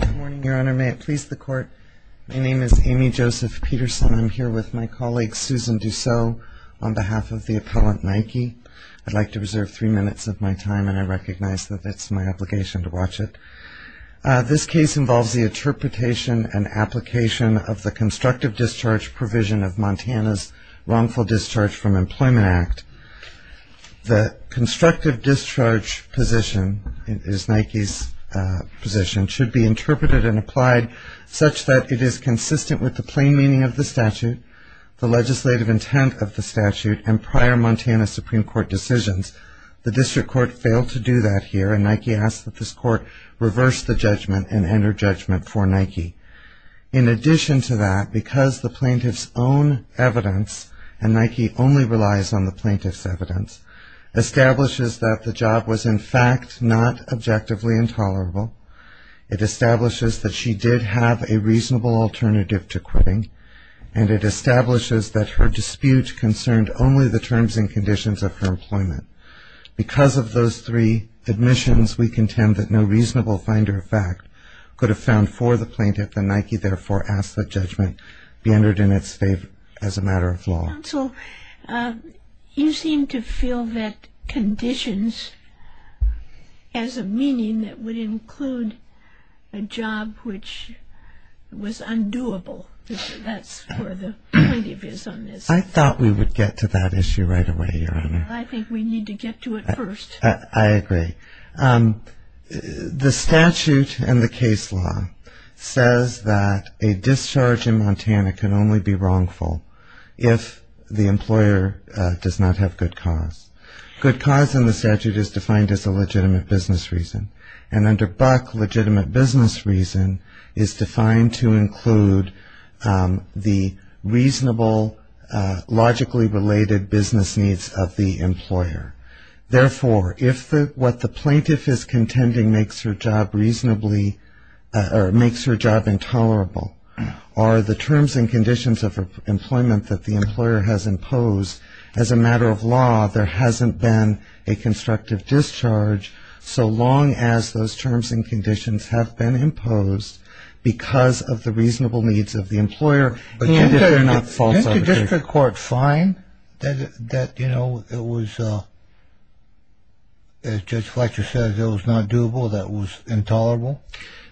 Good morning, Your Honor. May it please the Court. My name is Amy Joseph Peterson. I'm here with my colleague, Susan Douceau, on behalf of the appellant Nike. I'd like to reserve three minutes of my time, and I recognize that it's my obligation to watch it. This case involves the interpretation and application of the constructive discharge provision of Montana's Wrongful Discharge from Employment Act. The constructive discharge position, it is Nike's position, should be interpreted and applied such that it is consistent with the plain meaning of the statute, the legislative intent of the statute, and prior Montana Supreme Court decisions. The District Court failed to do that here, and Nike asks that this Court reverse the judgment and enter judgment for Nike. In addition to that, because the plaintiff's own evidence, and Nike only relies on the plaintiff's evidence, establishes that the job was in fact not objectively intolerable, it establishes that she did have a reasonable alternative to quitting, and it establishes that her dispute concerned only the terms and conditions of her employment. Because of those three admissions, we contend that no reasonable finder of fact could have found for the plaintiff, and Nike therefore asks that judgment be entered in its favor as a matter of law. Counsel, you seem to feel that conditions has a meaning that would include a job which was undoable. That's where the point of view is on this. I thought we would get to that issue right away, Your Honor. I think we need to get to it first. I agree. The statute and the case law says that a discharge in Montana can only be wrongful if the employer does not have good cause. Good cause in the statute is defined as a legitimate business reason, and under Buck, legitimate business reason is defined to include the reasonable logically related business needs of the employer. Therefore, if what the plaintiff is contending makes her job reasonably or makes her job intolerable, or the terms and conditions of her employment that the employer has imposed, as a matter of law, there hasn't been a constructive discharge so long as those terms and conditions have been imposed because of the reasonable needs of the employer. Can't the district court find that, you know, it was, as Judge Fletcher said, it was not doable, that it was intolerable?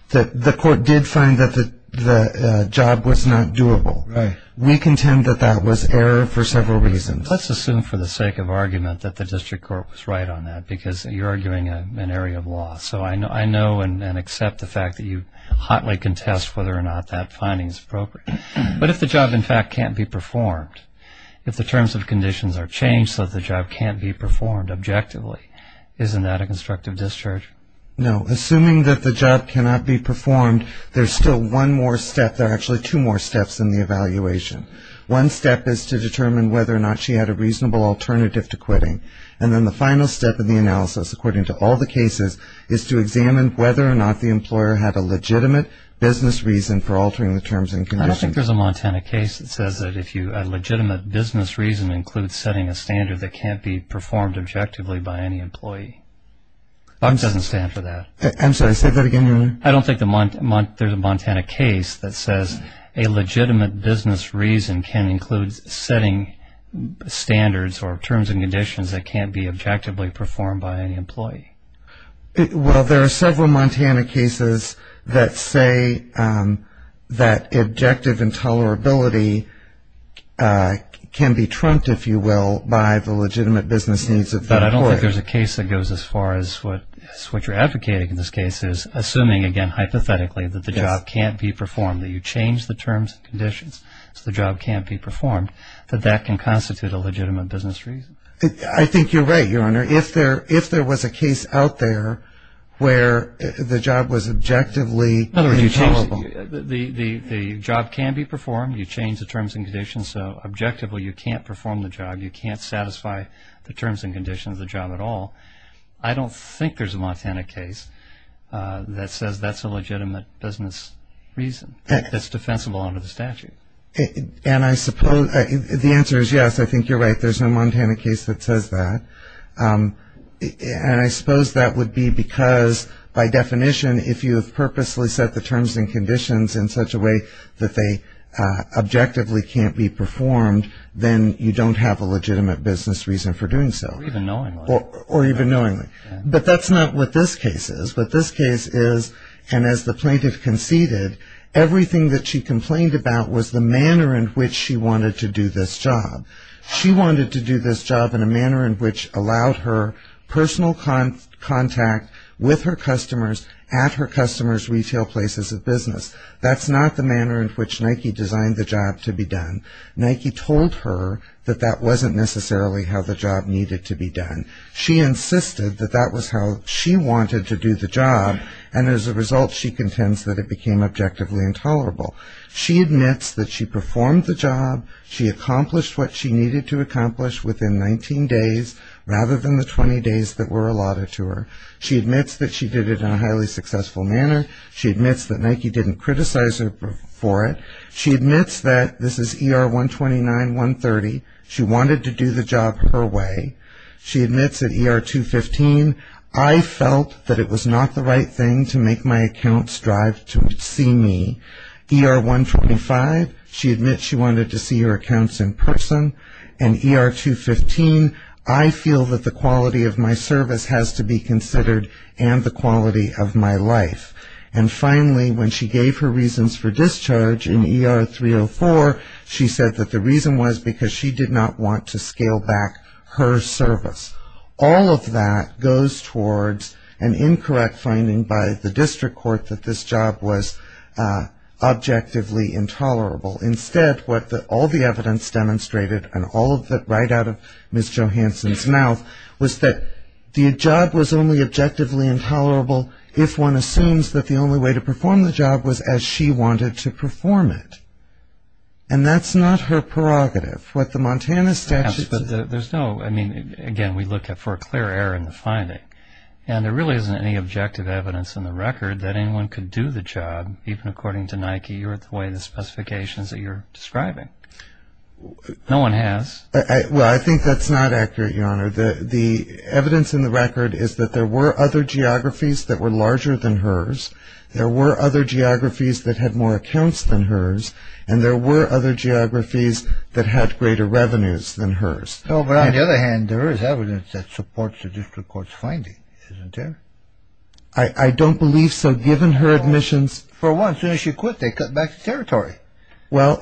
The court did find that the job was not doable. Right. We contend that that was error for several reasons. Let's assume for the sake of argument that the district court was right on that because you're arguing an area of law. So I know and accept the fact that you hotly contest whether or not that finding is appropriate. But if the job, in fact, can't be performed, if the terms and conditions are changed so that the job can't be performed objectively, isn't that a constructive discharge? No. Assuming that the job cannot be performed, there's still one more step. There are actually two more steps in the evaluation. One step is to determine whether or not she had a reasonable alternative to quitting. And then the final step in the analysis, according to all the cases, is to examine whether or not the employer had a legitimate business reason for altering the terms and conditions. I don't think there's a Montana case that says that a legitimate business reason includes setting a standard that can't be performed objectively by any employee. Bob doesn't stand for that. I'm sorry, say that again, your Honor. I don't think there's a Montana case that says a legitimate business reason can include setting standards or terms and conditions that can't be objectively performed by any employee. Well, there are several Montana cases that say that objective intolerability can be trumped, if you will, by the legitimate business needs of the employer. I don't think there's a case that goes as far as what you're advocating in this case is assuming, again, hypothetically, that the job can't be performed, that you change the terms and conditions so the job can't be performed, that that can constitute a legitimate business reason. I think you're right, your Honor. If there was a case out there where the job was objectively intolerable. The job can be performed. You change the terms and conditions so objectively you can't perform the job. You can't satisfy the terms and conditions of the job at all. I don't think there's a Montana case that says that's a legitimate business reason that's defensible under the statute. And I suppose the answer is yes. I think you're right. There's no Montana case that says that. And I suppose that would be because, by definition, if you have purposely set the terms and conditions in such a way that they objectively can't be performed, then you don't have a legitimate business reason for doing so. Or even knowingly. Or even knowingly. But that's not what this case is. What this case is, and as the plaintiff conceded, everything that she complained about was the manner in which she wanted to do this job. She wanted to do this job in a manner in which allowed her personal contact with her customers at her customers' retail places of business. That's not the manner in which Nike designed the job to be done. Nike told her that that wasn't necessarily how the job needed to be done. She insisted that that was how she wanted to do the job, and as a result she contends that it became objectively intolerable. She admits that she performed the job. She accomplished what she needed to accomplish within 19 days rather than the 20 days that were allotted to her. She admits that she did it in a highly successful manner. She admits that Nike didn't criticize her for it. She admits that this is ER 129, 130. She wanted to do the job her way. She admits at ER 215, I felt that it was not the right thing to make my account strive to see me. ER 125, she admits she wanted to see her accounts in person. And ER 215, I feel that the quality of my service has to be considered and the quality of my life. And finally, when she gave her reasons for discharge in ER 304, she said that the reason was because she did not want to scale back her service. All of that goes towards an incorrect finding by the district court that this job was objectively intolerable. Instead, what all the evidence demonstrated and all of it right out of Ms. Johanson's mouth was that the job was only objectively intolerable if one assumes that the only way to perform the job was as she wanted to perform it. And that's not her prerogative. What the Montana statute says- Yes, but there's no, I mean, again, we look for a clear error in the finding. And there really isn't any objective evidence in the record that anyone could do the job, even according to Nike or the way the specifications that you're describing. No one has. Well, I think that's not accurate, Your Honor. The evidence in the record is that there were other geographies that were larger than hers. There were other geographies that had more accounts than hers. And there were other geographies that had greater revenues than hers. No, but on the other hand, there is evidence that supports the district court's finding, isn't there? I don't believe so, given her admissions- For one, as soon as she quit, they cut back the territory. Well,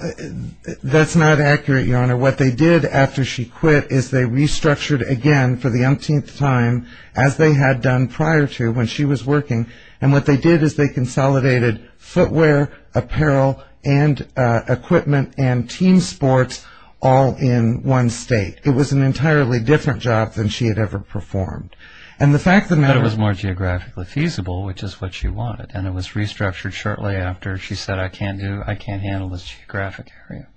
that's not accurate, Your Honor. What they did after she quit is they restructured again for the umpteenth time, as they had done prior to when she was working. And what they did is they consolidated footwear, apparel and equipment and team sports all in one state. It was an entirely different job than she had ever performed. But it was more geographically feasible, which is what she wanted. And it was restructured shortly after she said, I can't handle this geographic area.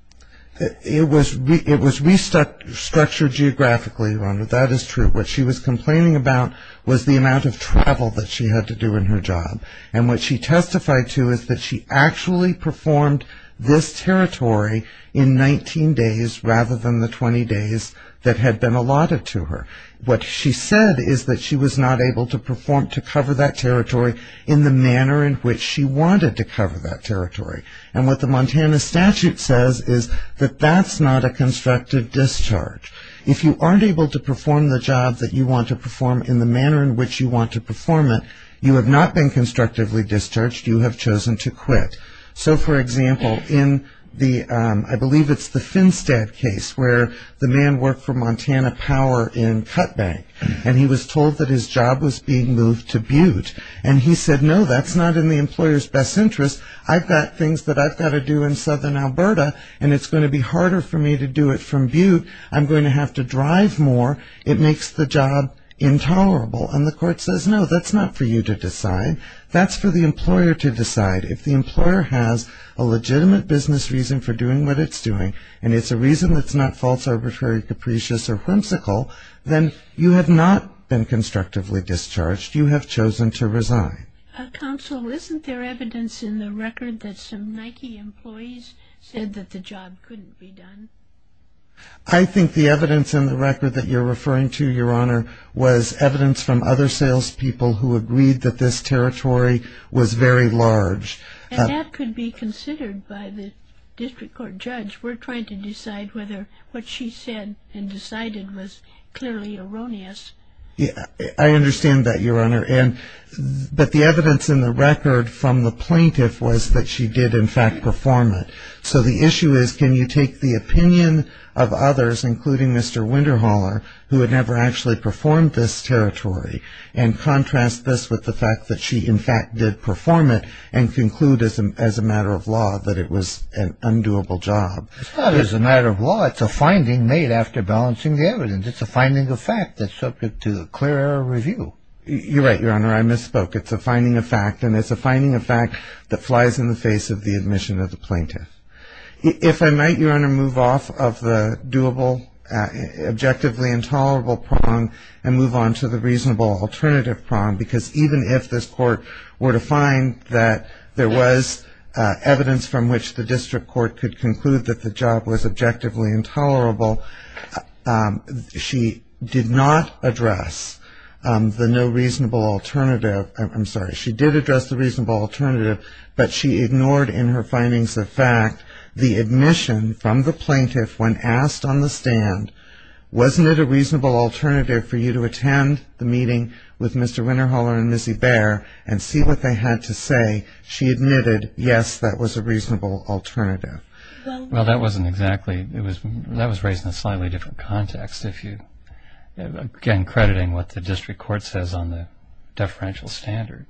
It was restructured geographically, Your Honor. That is true. What she was complaining about was the amount of travel that she had to do in her job. And what she testified to is that she actually performed this territory in 19 days rather than the 20 days that had been allotted to her. What she said is that she was not able to perform, to cover that territory in the manner in which she wanted to cover that territory. And what the Montana statute says is that that's not a constructive discharge. If you aren't able to perform the job that you want to perform in the manner in which you want to perform it, you have not been constructively discharged. You have chosen to quit. So, for example, in the, I believe it's the Finstead case, where the man worked for Montana Power in Cutbank, and he was told that his job was being moved to Butte. And he said, no, that's not in the employer's best interest. I've got things that I've got to do in southern Alberta, and it's going to be harder for me to do it from Butte. I'm going to have to drive more. It makes the job intolerable. And the court says, no, that's not for you to decide. That's for the employer to decide. If the employer has a legitimate business reason for doing what it's doing, and it's a reason that's not false, arbitrary, capricious, or whimsical, then you have not been constructively discharged. You have chosen to resign. Counsel, isn't there evidence in the record that some Nike employees said that the job couldn't be done? I think the evidence in the record that you're referring to, Your Honor, was evidence from other salespeople who agreed that this territory was very large. And that could be considered by the district court judge. We're trying to decide whether what she said and decided was clearly erroneous. I understand that, Your Honor. But the evidence in the record from the plaintiff was that she did, in fact, perform it. So the issue is, can you take the opinion of others, including Mr. Winterholer, who had never actually performed this territory, and contrast this with the fact that she, in fact, did perform it and conclude as a matter of law that it was an undoable job? It's not as a matter of law. It's a finding made after balancing the evidence. It's a finding of fact that's subject to a clear review. You're right, Your Honor. I misspoke. It's a finding of fact, and it's a finding of fact that flies in the face of the admission of the plaintiff. If I might, Your Honor, move off of the doable, objectively intolerable prong and move on to the reasonable alternative prong, because even if this court were to find that there was evidence from which the district court could conclude that the job was objectively intolerable, she did not address the no reasonable alternative. I'm sorry. She did address the reasonable alternative, but she ignored in her findings of fact the admission from the plaintiff when asked on the stand, wasn't it a reasonable alternative for you to attend the meeting with Mr. Winterholer and Ms. Ebert and see what they had to say? She admitted, yes, that was a reasonable alternative. Well, that was raised in a slightly different context, again crediting what the district court says on the deferential standard.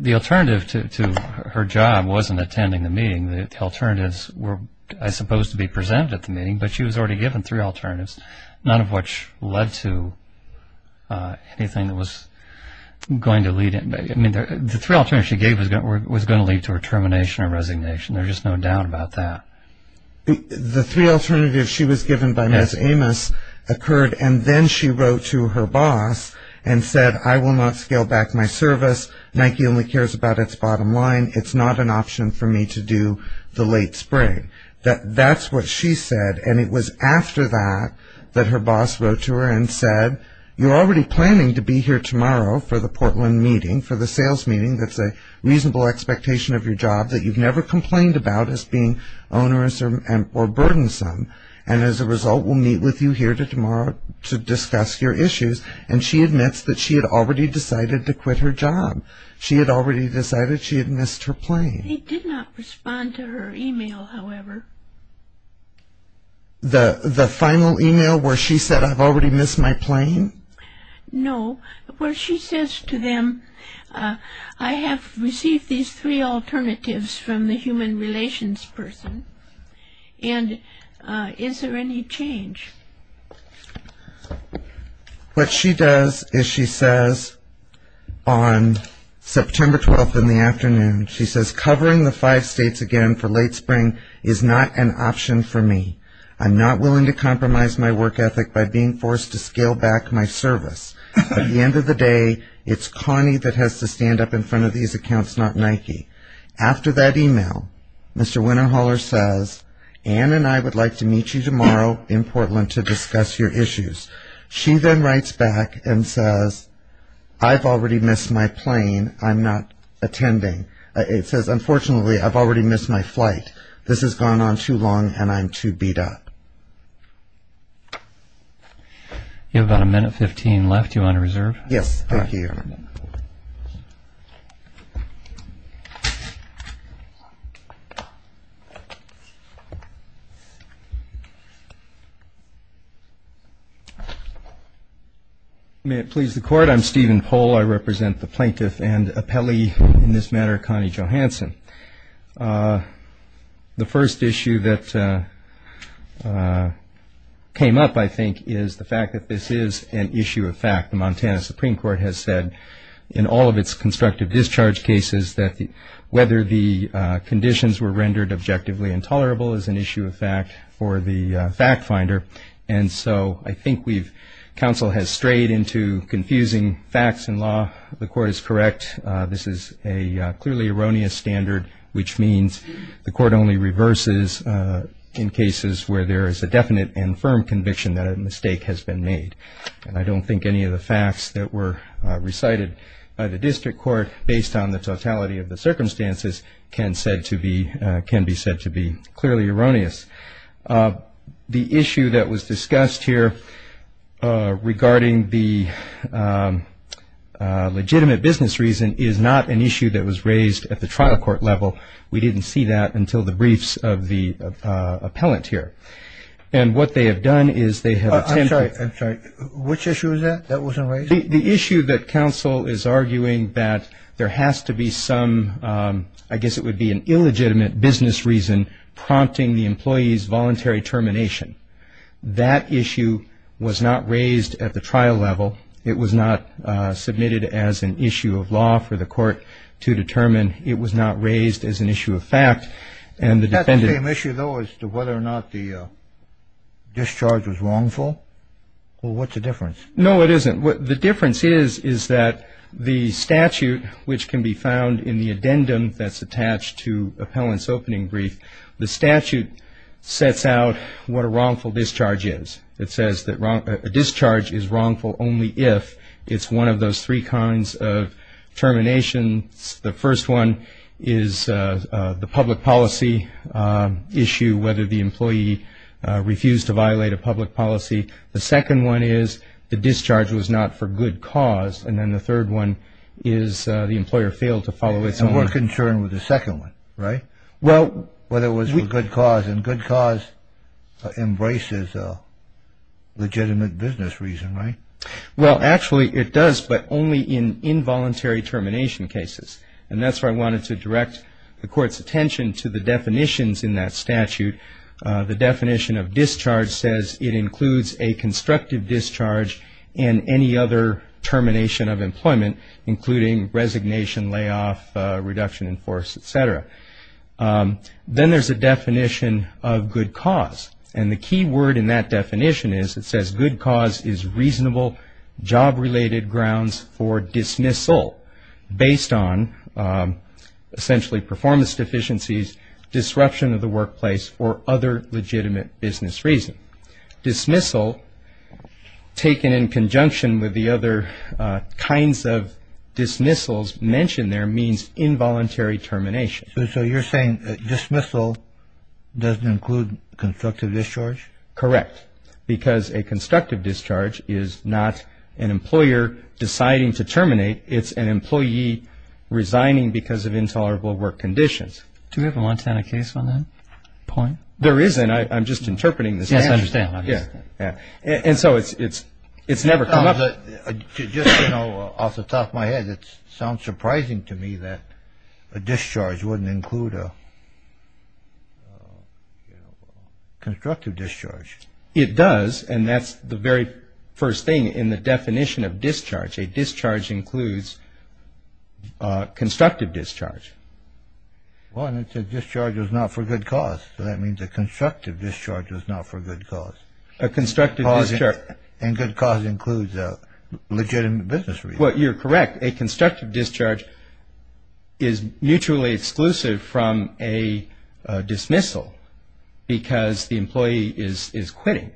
The alternative to her job wasn't attending the meeting. The alternatives were supposed to be presented at the meeting, but she was already given three alternatives, none of which led to anything that was going to lead in. The three alternatives she gave was going to lead to her termination or resignation. There's just no doubt about that. The three alternatives she was given by Ms. Amos occurred, and then she wrote to her boss and said, I will not scale back my service. Nike only cares about its bottom line. It's not an option for me to do the late spring. That's what she said, and it was after that that her boss wrote to her and said, you're already planning to be here tomorrow for the Portland meeting, for the sales meeting that's a reasonable expectation of your job that you've never complained about as being onerous or burdensome, and as a result we'll meet with you here tomorrow to discuss your issues. And she admits that she had already decided to quit her job. She had already decided she had missed her plane. He did not respond to her e-mail, however. The final e-mail where she said, I've already missed my plane? No, where she says to them, I have received these three alternatives from the human relations person, and is there any change? What she does is she says on September 12th in the afternoon, she says, covering the five states again for late spring is not an option for me. I'm not willing to compromise my work ethic by being forced to scale back my service. At the end of the day, it's Connie that has to stand up in front of these accounts, not Nike. After that e-mail, Mr. Winterhaller says, Ann and I would like to meet you tomorrow in Portland to discuss your issues. She then writes back and says, I've already missed my plane. I'm not attending. It says, unfortunately, I've already missed my flight. This has gone on too long, and I'm too beat up. You have about a minute 15 left. Do you want to reserve? Yes, thank you. May it please the Court. I'm Stephen Pohl. I represent the plaintiff and appellee in this matter, Connie Johansson. The first issue that came up, I think, is the fact that this is an issue of fact. The Montana Supreme Court has said in all of its constructive discharge cases that whether the conditions were rendered objectively intolerable is an issue of fact for the fact finder. And so I think counsel has strayed into confusing facts in law. The Court is correct. This is a clearly erroneous standard, which means the Court only reverses in cases where there is a definite and firm conviction that a mistake has been made. And I don't think any of the facts that were recited by the district court, based on the totality of the circumstances, can be said to be clearly erroneous. The issue that was discussed here regarding the legitimate business reason is not an issue that was raised at the trial court level. We didn't see that until the briefs of the appellant here. And what they have done is they have attempted to I'm sorry, I'm sorry. Which issue is that? That wasn't raised? The issue that counsel is arguing that there has to be some, I guess it would be an illegitimate business reason prompting the employee's voluntary termination. That issue was not raised at the trial level. It was not submitted as an issue of law for the Court to determine. It was not raised as an issue of fact. Is that the same issue, though, as to whether or not the discharge was wrongful? Well, what's the difference? No, it isn't. The difference is that the statute, which can be found in the addendum that's attached to appellant's opening brief, the statute sets out what a wrongful discharge is. It says that a discharge is wrongful only if it's one of those three kinds of terminations. The first one is the public policy issue, whether the employee refused to violate a public policy. The second one is the discharge was not for good cause. And then the third one is the employer failed to follow its own. And we're concerned with the second one, right, whether it was for good cause. And good cause embraces a legitimate business reason, right? Well, actually, it does, but only in involuntary termination cases. And that's where I wanted to direct the Court's attention to the definitions in that statute. The definition of discharge says it includes a constructive discharge and any other termination of employment, including resignation, layoff, reduction in force, et cetera. Then there's a definition of good cause. And the key word in that definition is it says good cause is reasonable job-related grounds for dismissal based on, essentially, performance deficiencies, disruption of the workplace, or other legitimate business reason. Dismissal, taken in conjunction with the other kinds of dismissals mentioned there, means involuntary termination. So you're saying dismissal doesn't include constructive discharge? Correct. Because a constructive discharge is not an employer deciding to terminate. It's an employee resigning because of intolerable work conditions. Do we have a Montana case on that point? There isn't. I'm just interpreting this. Yes, I understand. And so it's never come up. Just off the top of my head, it sounds surprising to me that a discharge wouldn't include a constructive discharge. It does, and that's the very first thing in the definition of discharge. A discharge includes constructive discharge. Well, and it says discharge is not for good cause. So that means a constructive discharge is not for good cause. A constructive discharge. And good cause includes a legitimate business reason. Well, you're correct. A constructive discharge is mutually exclusive from a dismissal because the employee is quitting.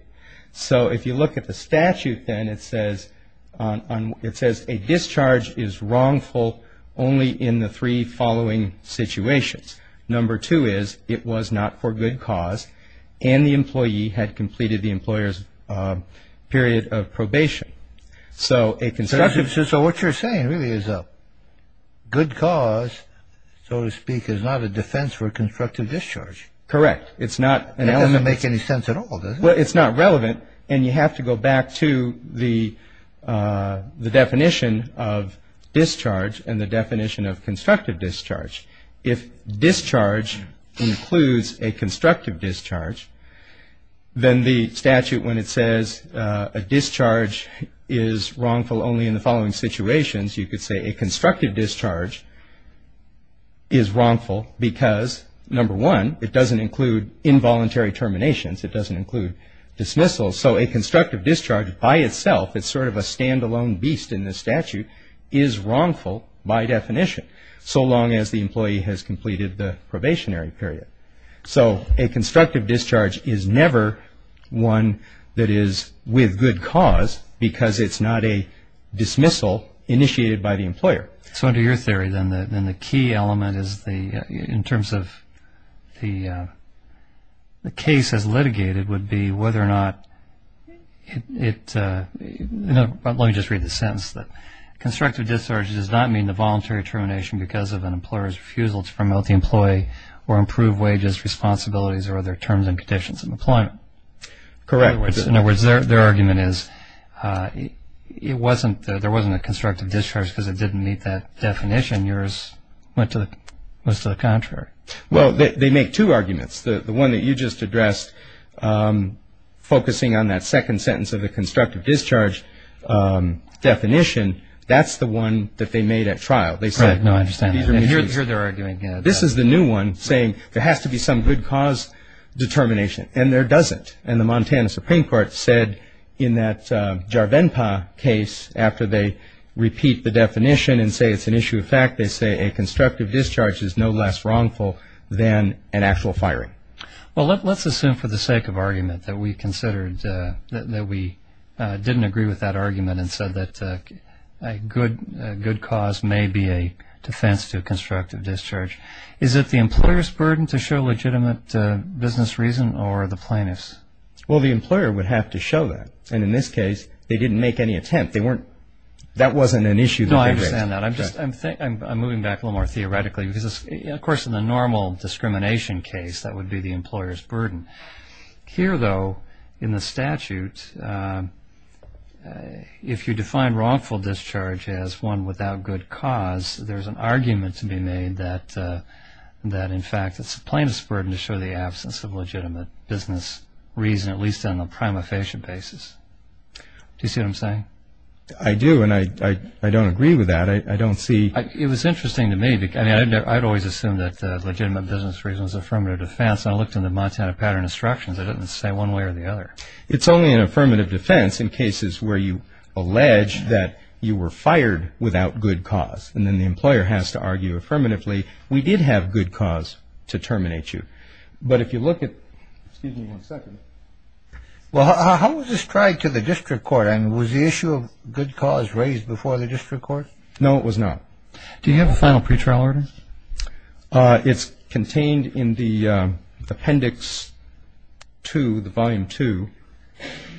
So if you look at the statute then, it says a discharge is wrongful only in the three following situations. Number two is it was not for good cause and the employee had completed the employer's period of probation. So what you're saying really is a good cause, so to speak, is not a defense for constructive discharge. Correct. It doesn't make any sense at all, does it? Well, it's not relevant. And you have to go back to the definition of discharge and the definition of constructive discharge. If discharge includes a constructive discharge, then the statute, when it says a discharge is wrongful only in the following situations, you could say a constructive discharge is wrongful because, number one, it doesn't include involuntary terminations. It doesn't include dismissals. So a constructive discharge by itself, it's sort of a stand-alone beast in this statute, is wrongful by definition, so long as the employee has completed the probationary period. So a constructive discharge is never one that is with good cause because it's not a dismissal initiated by the employer. So under your theory, then, the key element in terms of the case as litigated would be whether or not it – let me just read the sentence. Constructive discharge does not mean the voluntary termination because of an employer's refusal to promote the employee or improve wages, responsibilities, or other terms and conditions in employment. Correct. In other words, their argument is it wasn't – there wasn't a constructive discharge because it didn't meet that definition. Yours went to the contrary. Well, they make two arguments. The one that you just addressed, focusing on that second sentence of the constructive discharge definition, that's the one that they made at trial. They said – No, I understand. I hear their argument. This is the new one saying there has to be some good cause determination, and there doesn't. And the Montana Supreme Court said in that Jarvenpa case, after they repeat the definition and say it's an issue of fact, they say a constructive discharge is no less wrongful than an actual firing. Well, let's assume for the sake of argument that we considered – defense to constructive discharge. Is it the employer's burden to show legitimate business reason or the plaintiff's? Well, the employer would have to show that. And in this case, they didn't make any attempt. They weren't – that wasn't an issue. No, I understand that. I'm just – I'm moving back a little more theoretically because, of course, in the normal discrimination case, that would be the employer's burden. Here, though, in the statute, if you define wrongful discharge as one without good cause, there's an argument to be made that, in fact, it's the plaintiff's burden to show the absence of legitimate business reason, at least on a prima facie basis. Do you see what I'm saying? I do, and I don't agree with that. I don't see – It was interesting to me. I mean, I'd always assumed that legitimate business reason was affirmative defense. I looked in the Montana Pattern Instructions. It doesn't say one way or the other. It's only an affirmative defense in cases where you allege that you were fired without good cause, and then the employer has to argue affirmatively, we did have good cause to terminate you. But if you look at – excuse me one second. Well, how was this tried to the district court? And was the issue of good cause raised before the district court? No, it was not. Do you have a final pretrial order? It's contained in the Appendix 2, the Volume 2.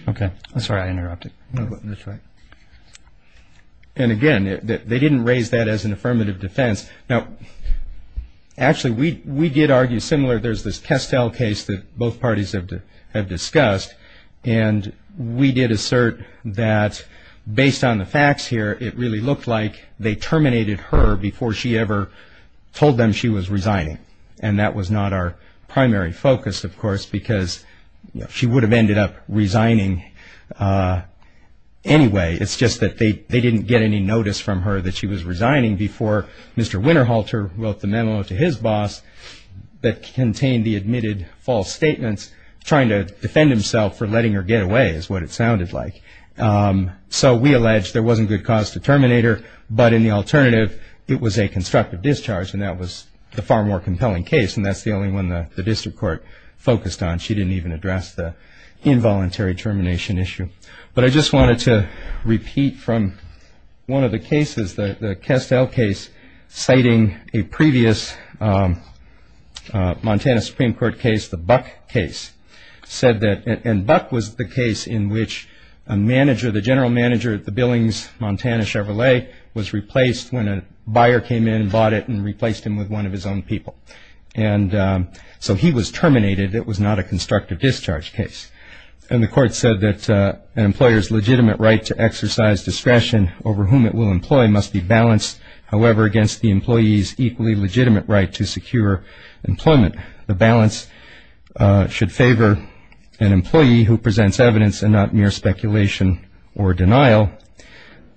Okay. Sorry, I interrupted. That's all right. And, again, they didn't raise that as an affirmative defense. Now, actually, we did argue similar. There's this Kestel case that both parties have discussed, and we did assert that, based on the facts here, it really looked like they terminated her before she ever told them she was resigning. And that was not our primary focus, of course, because she would have ended up resigning anyway. It's just that they didn't get any notice from her that she was resigning before Mr. Winterhalter wrote the memo to his boss that contained the admitted false statements. Trying to defend himself for letting her get away is what it sounded like. So we alleged there wasn't good cause to terminate her, but, in the alternative, it was a constructive discharge, and that was the far more compelling case, and that's the only one the district court focused on. She didn't even address the involuntary termination issue. But I just wanted to repeat from one of the cases, the Kestel case, citing a previous Montana Supreme Court case, the Buck case, said that – and Buck was the case in which a manager, the general manager at the Billings, Montana Chevrolet, was replaced when a buyer came in and bought it and replaced him with one of his own people. And so he was terminated. It was not a constructive discharge case. And the court said that an employer's legitimate right to exercise discretion over whom it will employ must be balanced, however, against the employee's equally legitimate right to secure employment. The balance should favor an employee who presents evidence and not mere speculation or denial,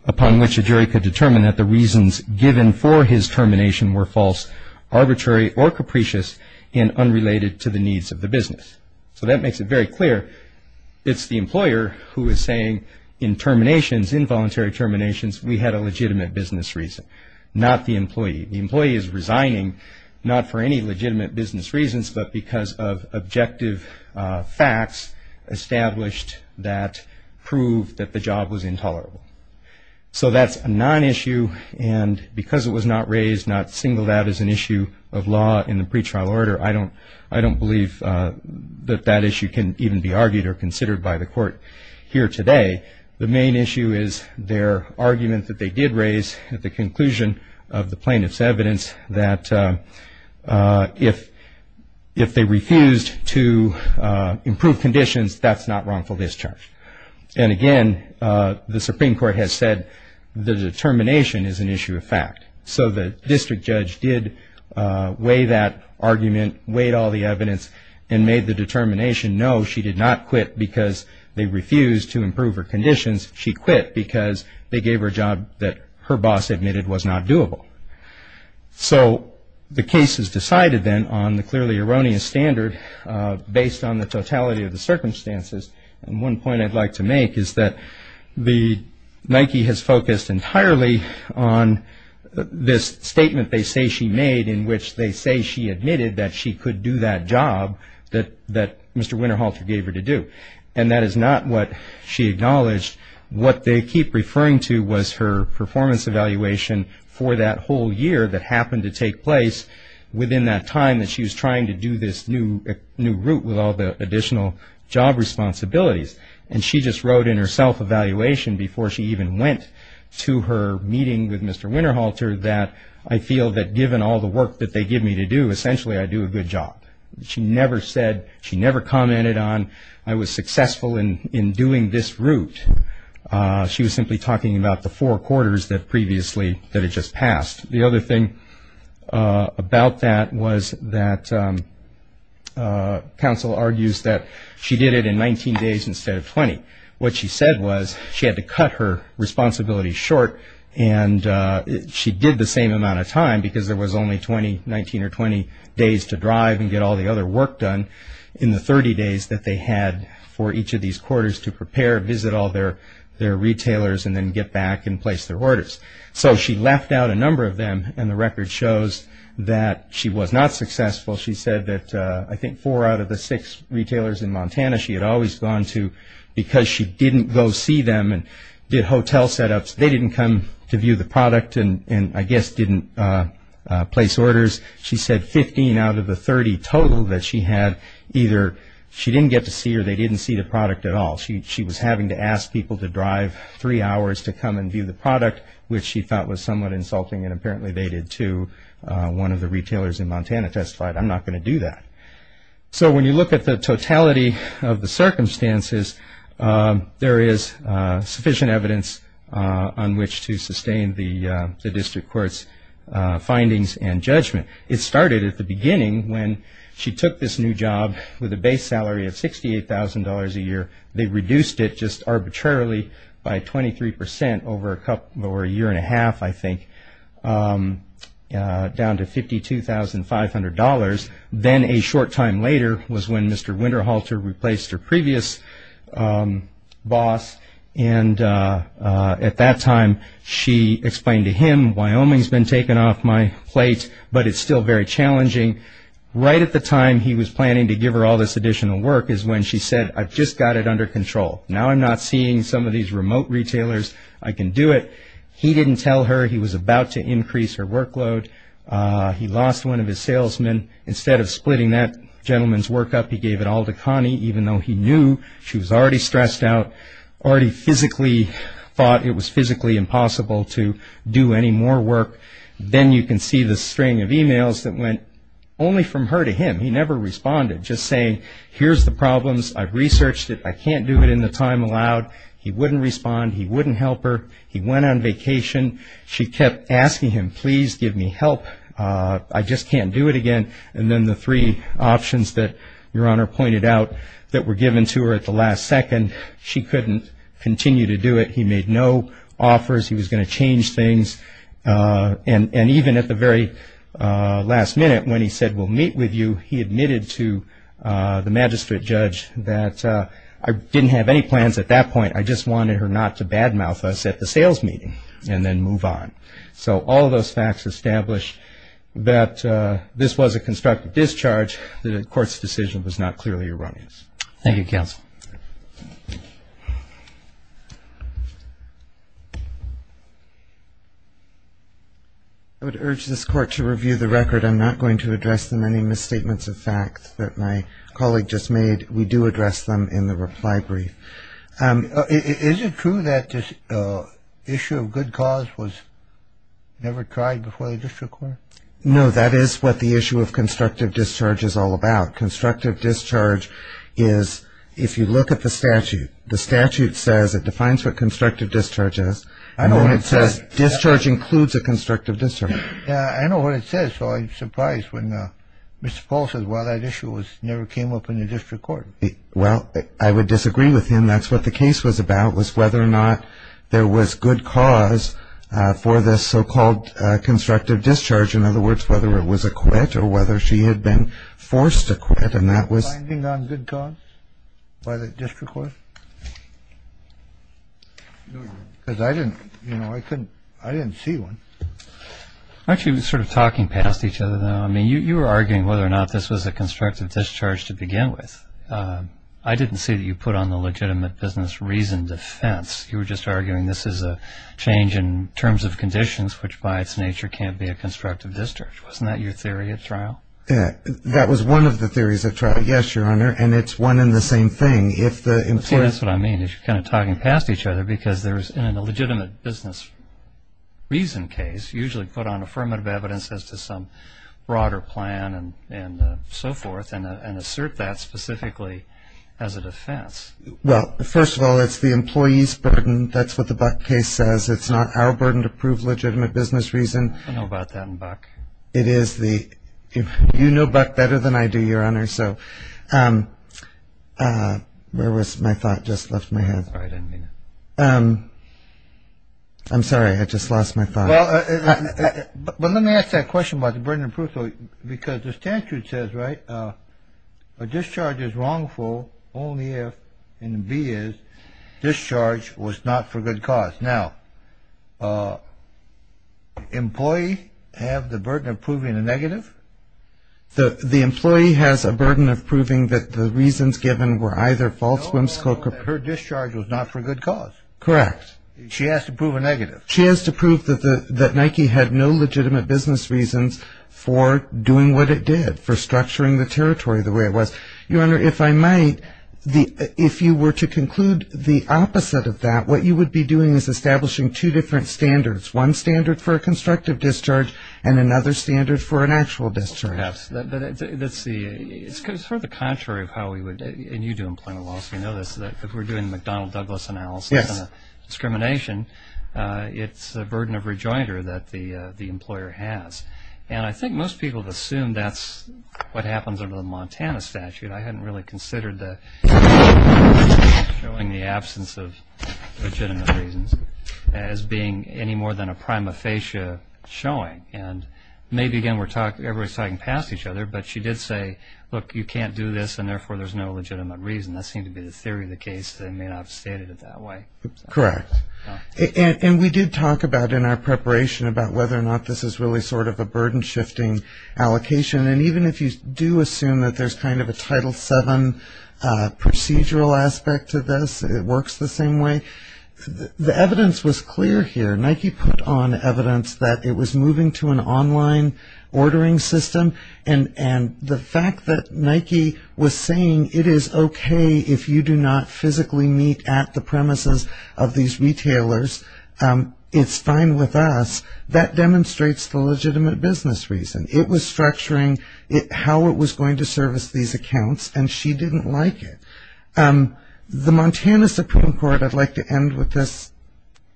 upon which a jury could determine that the reasons given for his termination were false, arbitrary, or capricious and unrelated to the needs of the business. So that makes it very clear it's the employer who is saying in terminations, involuntary terminations, we had a legitimate business reason, not the employee. The employee is resigning not for any legitimate business reasons, but because of objective facts established that prove that the job was intolerable. So that's a non-issue. And because it was not raised, not singled out as an issue of law in the pretrial order, I don't believe that that issue can even be argued or considered by the court here today. The main issue is their argument that they did raise at the conclusion of the plaintiff's evidence that if they refused to improve conditions, that's not wrongful discharge. And again, the Supreme Court has said the determination is an issue of fact. So the district judge did weigh that argument, weighed all the evidence, and made the determination, no, she did not quit because they refused to improve her conditions. She quit because they gave her a job that her boss admitted was not doable. So the case is decided then on the clearly erroneous standard based on the totality of the circumstances. And one point I'd like to make is that Nike has focused entirely on this statement they say she made in which they say she admitted that she could do that job that Mr. Winterhalter gave her to do. And that is not what she acknowledged. What they keep referring to was her performance evaluation for that whole year that happened to take place within that time that she was trying to do this new route with all the additional job responsibilities. And she just wrote in her self-evaluation before she even went to her meeting with Mr. Winterhalter that I feel that given all the work that they give me to do, essentially I do a good job. She never said, she never commented on I was successful in doing this route. She was simply talking about the four quarters that previously, that had just passed. The other thing about that was that counsel argues that she did it in 19 days instead of 20. What she said was she had to cut her responsibilities short and she did the same amount of time because there was only 20, 19 or 20 days to drive and get all the other work done in the 30 days that they had for each of these quarters to prepare, visit all their retailers and then get back and place their orders. So she left out a number of them and the record shows that she was not successful. She said that I think four out of the six retailers in Montana she had always gone to because she didn't go see them and did hotel setups. They didn't come to view the product and I guess didn't place orders. She said 15 out of the 30 total that she had either she didn't get to see or they didn't see the product at all. She was having to ask people to drive three hours to come and view the product which she thought was somewhat insulting and apparently they did too. One of the retailers in Montana testified I'm not going to do that. So when you look at the totality of the circumstances there is sufficient evidence on which to sustain the district court's findings and judgment. It started at the beginning when she took this new job with a base salary of $68,000 a year. They reduced it just arbitrarily by 23% over a year and a half I think down to $52,500. Then a short time later was when Mr. Winterhalter replaced her previous boss and at that time she explained to him Wyoming's been taken off my plate but it's still very challenging. Right at the time he was planning to give her all this additional work is when she said I've just got it under control. Now I'm not seeing some of these remote retailers. I can do it. He didn't tell her. He was about to increase her workload. He lost one of his salesmen. Instead of splitting that gentleman's work up he gave it all to Connie even though he knew she was already stressed out, already physically thought it was physically impossible to do any more work. Then you can see the string of emails that went only from her to him. He never responded, just saying here's the problems. I've researched it. I can't do it in the time allowed. He wouldn't respond. He wouldn't help her. He went on vacation. She kept asking him please give me help. I just can't do it again. Then the three options that Your Honor pointed out that were given to her at the last second, she couldn't continue to do it. He made no offers. He was going to change things. And even at the very last minute when he said we'll meet with you, he admitted to the magistrate judge that I didn't have any plans at that point. I just wanted her not to bad mouth us at the sales meeting and then move on. So all of those facts establish that this was a constructive discharge, that the court's decision was not clearly erroneous. Thank you, counsel. I would urge this court to review the record. I'm not going to address the many misstatements of facts that my colleague just made. We do address them in the reply brief. Is it true that this issue of good cause was never tried before the district court? No, that is what the issue of constructive discharge is all about. Constructive discharge is, if you look at the statute, the statute says it defines what constructive discharge is. I know what it says. Discharge includes a constructive discharge. I know what it says, so I'm surprised when Mr. Paul says, well, that issue never came up in the district court. Well, I would disagree with him. That's what the case was about, was whether or not there was good cause for this so-called constructive discharge. In other words, whether it was a quit or whether she had been forced to quit. And that was... Finding on good cause by the district court? Because I didn't, you know, I couldn't, I didn't see one. Aren't you sort of talking past each other now? I mean, you were arguing whether or not this was a constructive discharge to begin with. I didn't see that you put on the legitimate business reason defense. You were just arguing this is a change in terms of conditions, which by its nature can't be a constructive discharge. Wasn't that your theory at trial? That was one of the theories at trial. Yes, Your Honor, and it's one and the same thing. See, that's what I mean, is you're kind of talking past each other because in a legitimate business reason case, you usually put on affirmative evidence as to some broader plan and so forth and assert that specifically as a defense. Well, first of all, it's the employee's burden. That's what the case says. It's not our burden to prove legitimate business reason. I know about that in Buck. It is the – you know Buck better than I do, Your Honor. So where was my thought? Just left my head. Sorry, I didn't mean to. I'm sorry. I just lost my thought. But let me ask that question about the burden of proof because the statute says, right, a discharge is wrongful only if, and the B is, discharge was not for good cause. Now, employee have the burden of proving a negative? The employee has a burden of proving that the reasons given were either false whimsical – Her discharge was not for good cause. Correct. She has to prove a negative. She has to prove that Nike had no legitimate business reasons for doing what it did, for structuring the territory the way it was. Your Honor, if I might, if you were to conclude the opposite of that, what you would be doing is establishing two different standards, one standard for a constructive discharge and another standard for an actual discharge. Perhaps. But let's see. It's sort of the contrary of how we would – and you do employment law, so you know this – that if we're doing the McDonnell-Douglas analysis on discrimination, it's a burden of rejoinder that the employer has. And I think most people would assume that's what happens under the Montana statute. I hadn't really considered showing the absence of legitimate reasons as being any more than a prima facie showing. And maybe, again, we're talking – everybody's talking past each other, but she did say, look, you can't do this and, therefore, there's no legitimate reason. That seemed to be the theory of the case. They may not have stated it that way. Correct. And we did talk about in our preparation about whether or not this is really sort of a burden-shifting allocation. And even if you do assume that there's kind of a Title VII procedural aspect to this, it works the same way. The evidence was clear here. Nike put on evidence that it was moving to an online ordering system. And the fact that Nike was saying it is okay if you do not physically meet at the premises of these retailers, it's fine with us, that demonstrates the legitimate business reason. It was structuring how it was going to service these accounts, and she didn't like it. The Montana Supreme Court – I'd like to end with this.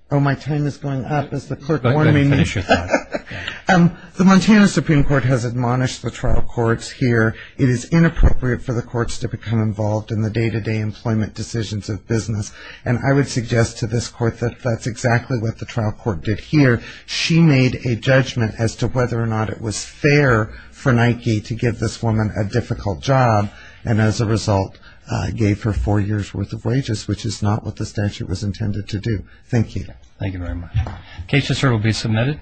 Oh, my time is going up as the clerk warned me. The Montana Supreme Court has admonished the trial courts here. It is inappropriate for the courts to become involved in the day-to-day employment decisions of business. And I would suggest to this court that that's exactly what the trial court did here. She made a judgment as to whether or not it was fair for Nike to give this woman a difficult job and, as a result, gave her four years' worth of wages, which is not what the statute was intended to do. Thank you. Thank you very much. The case, Mr. Chair, will be submitted.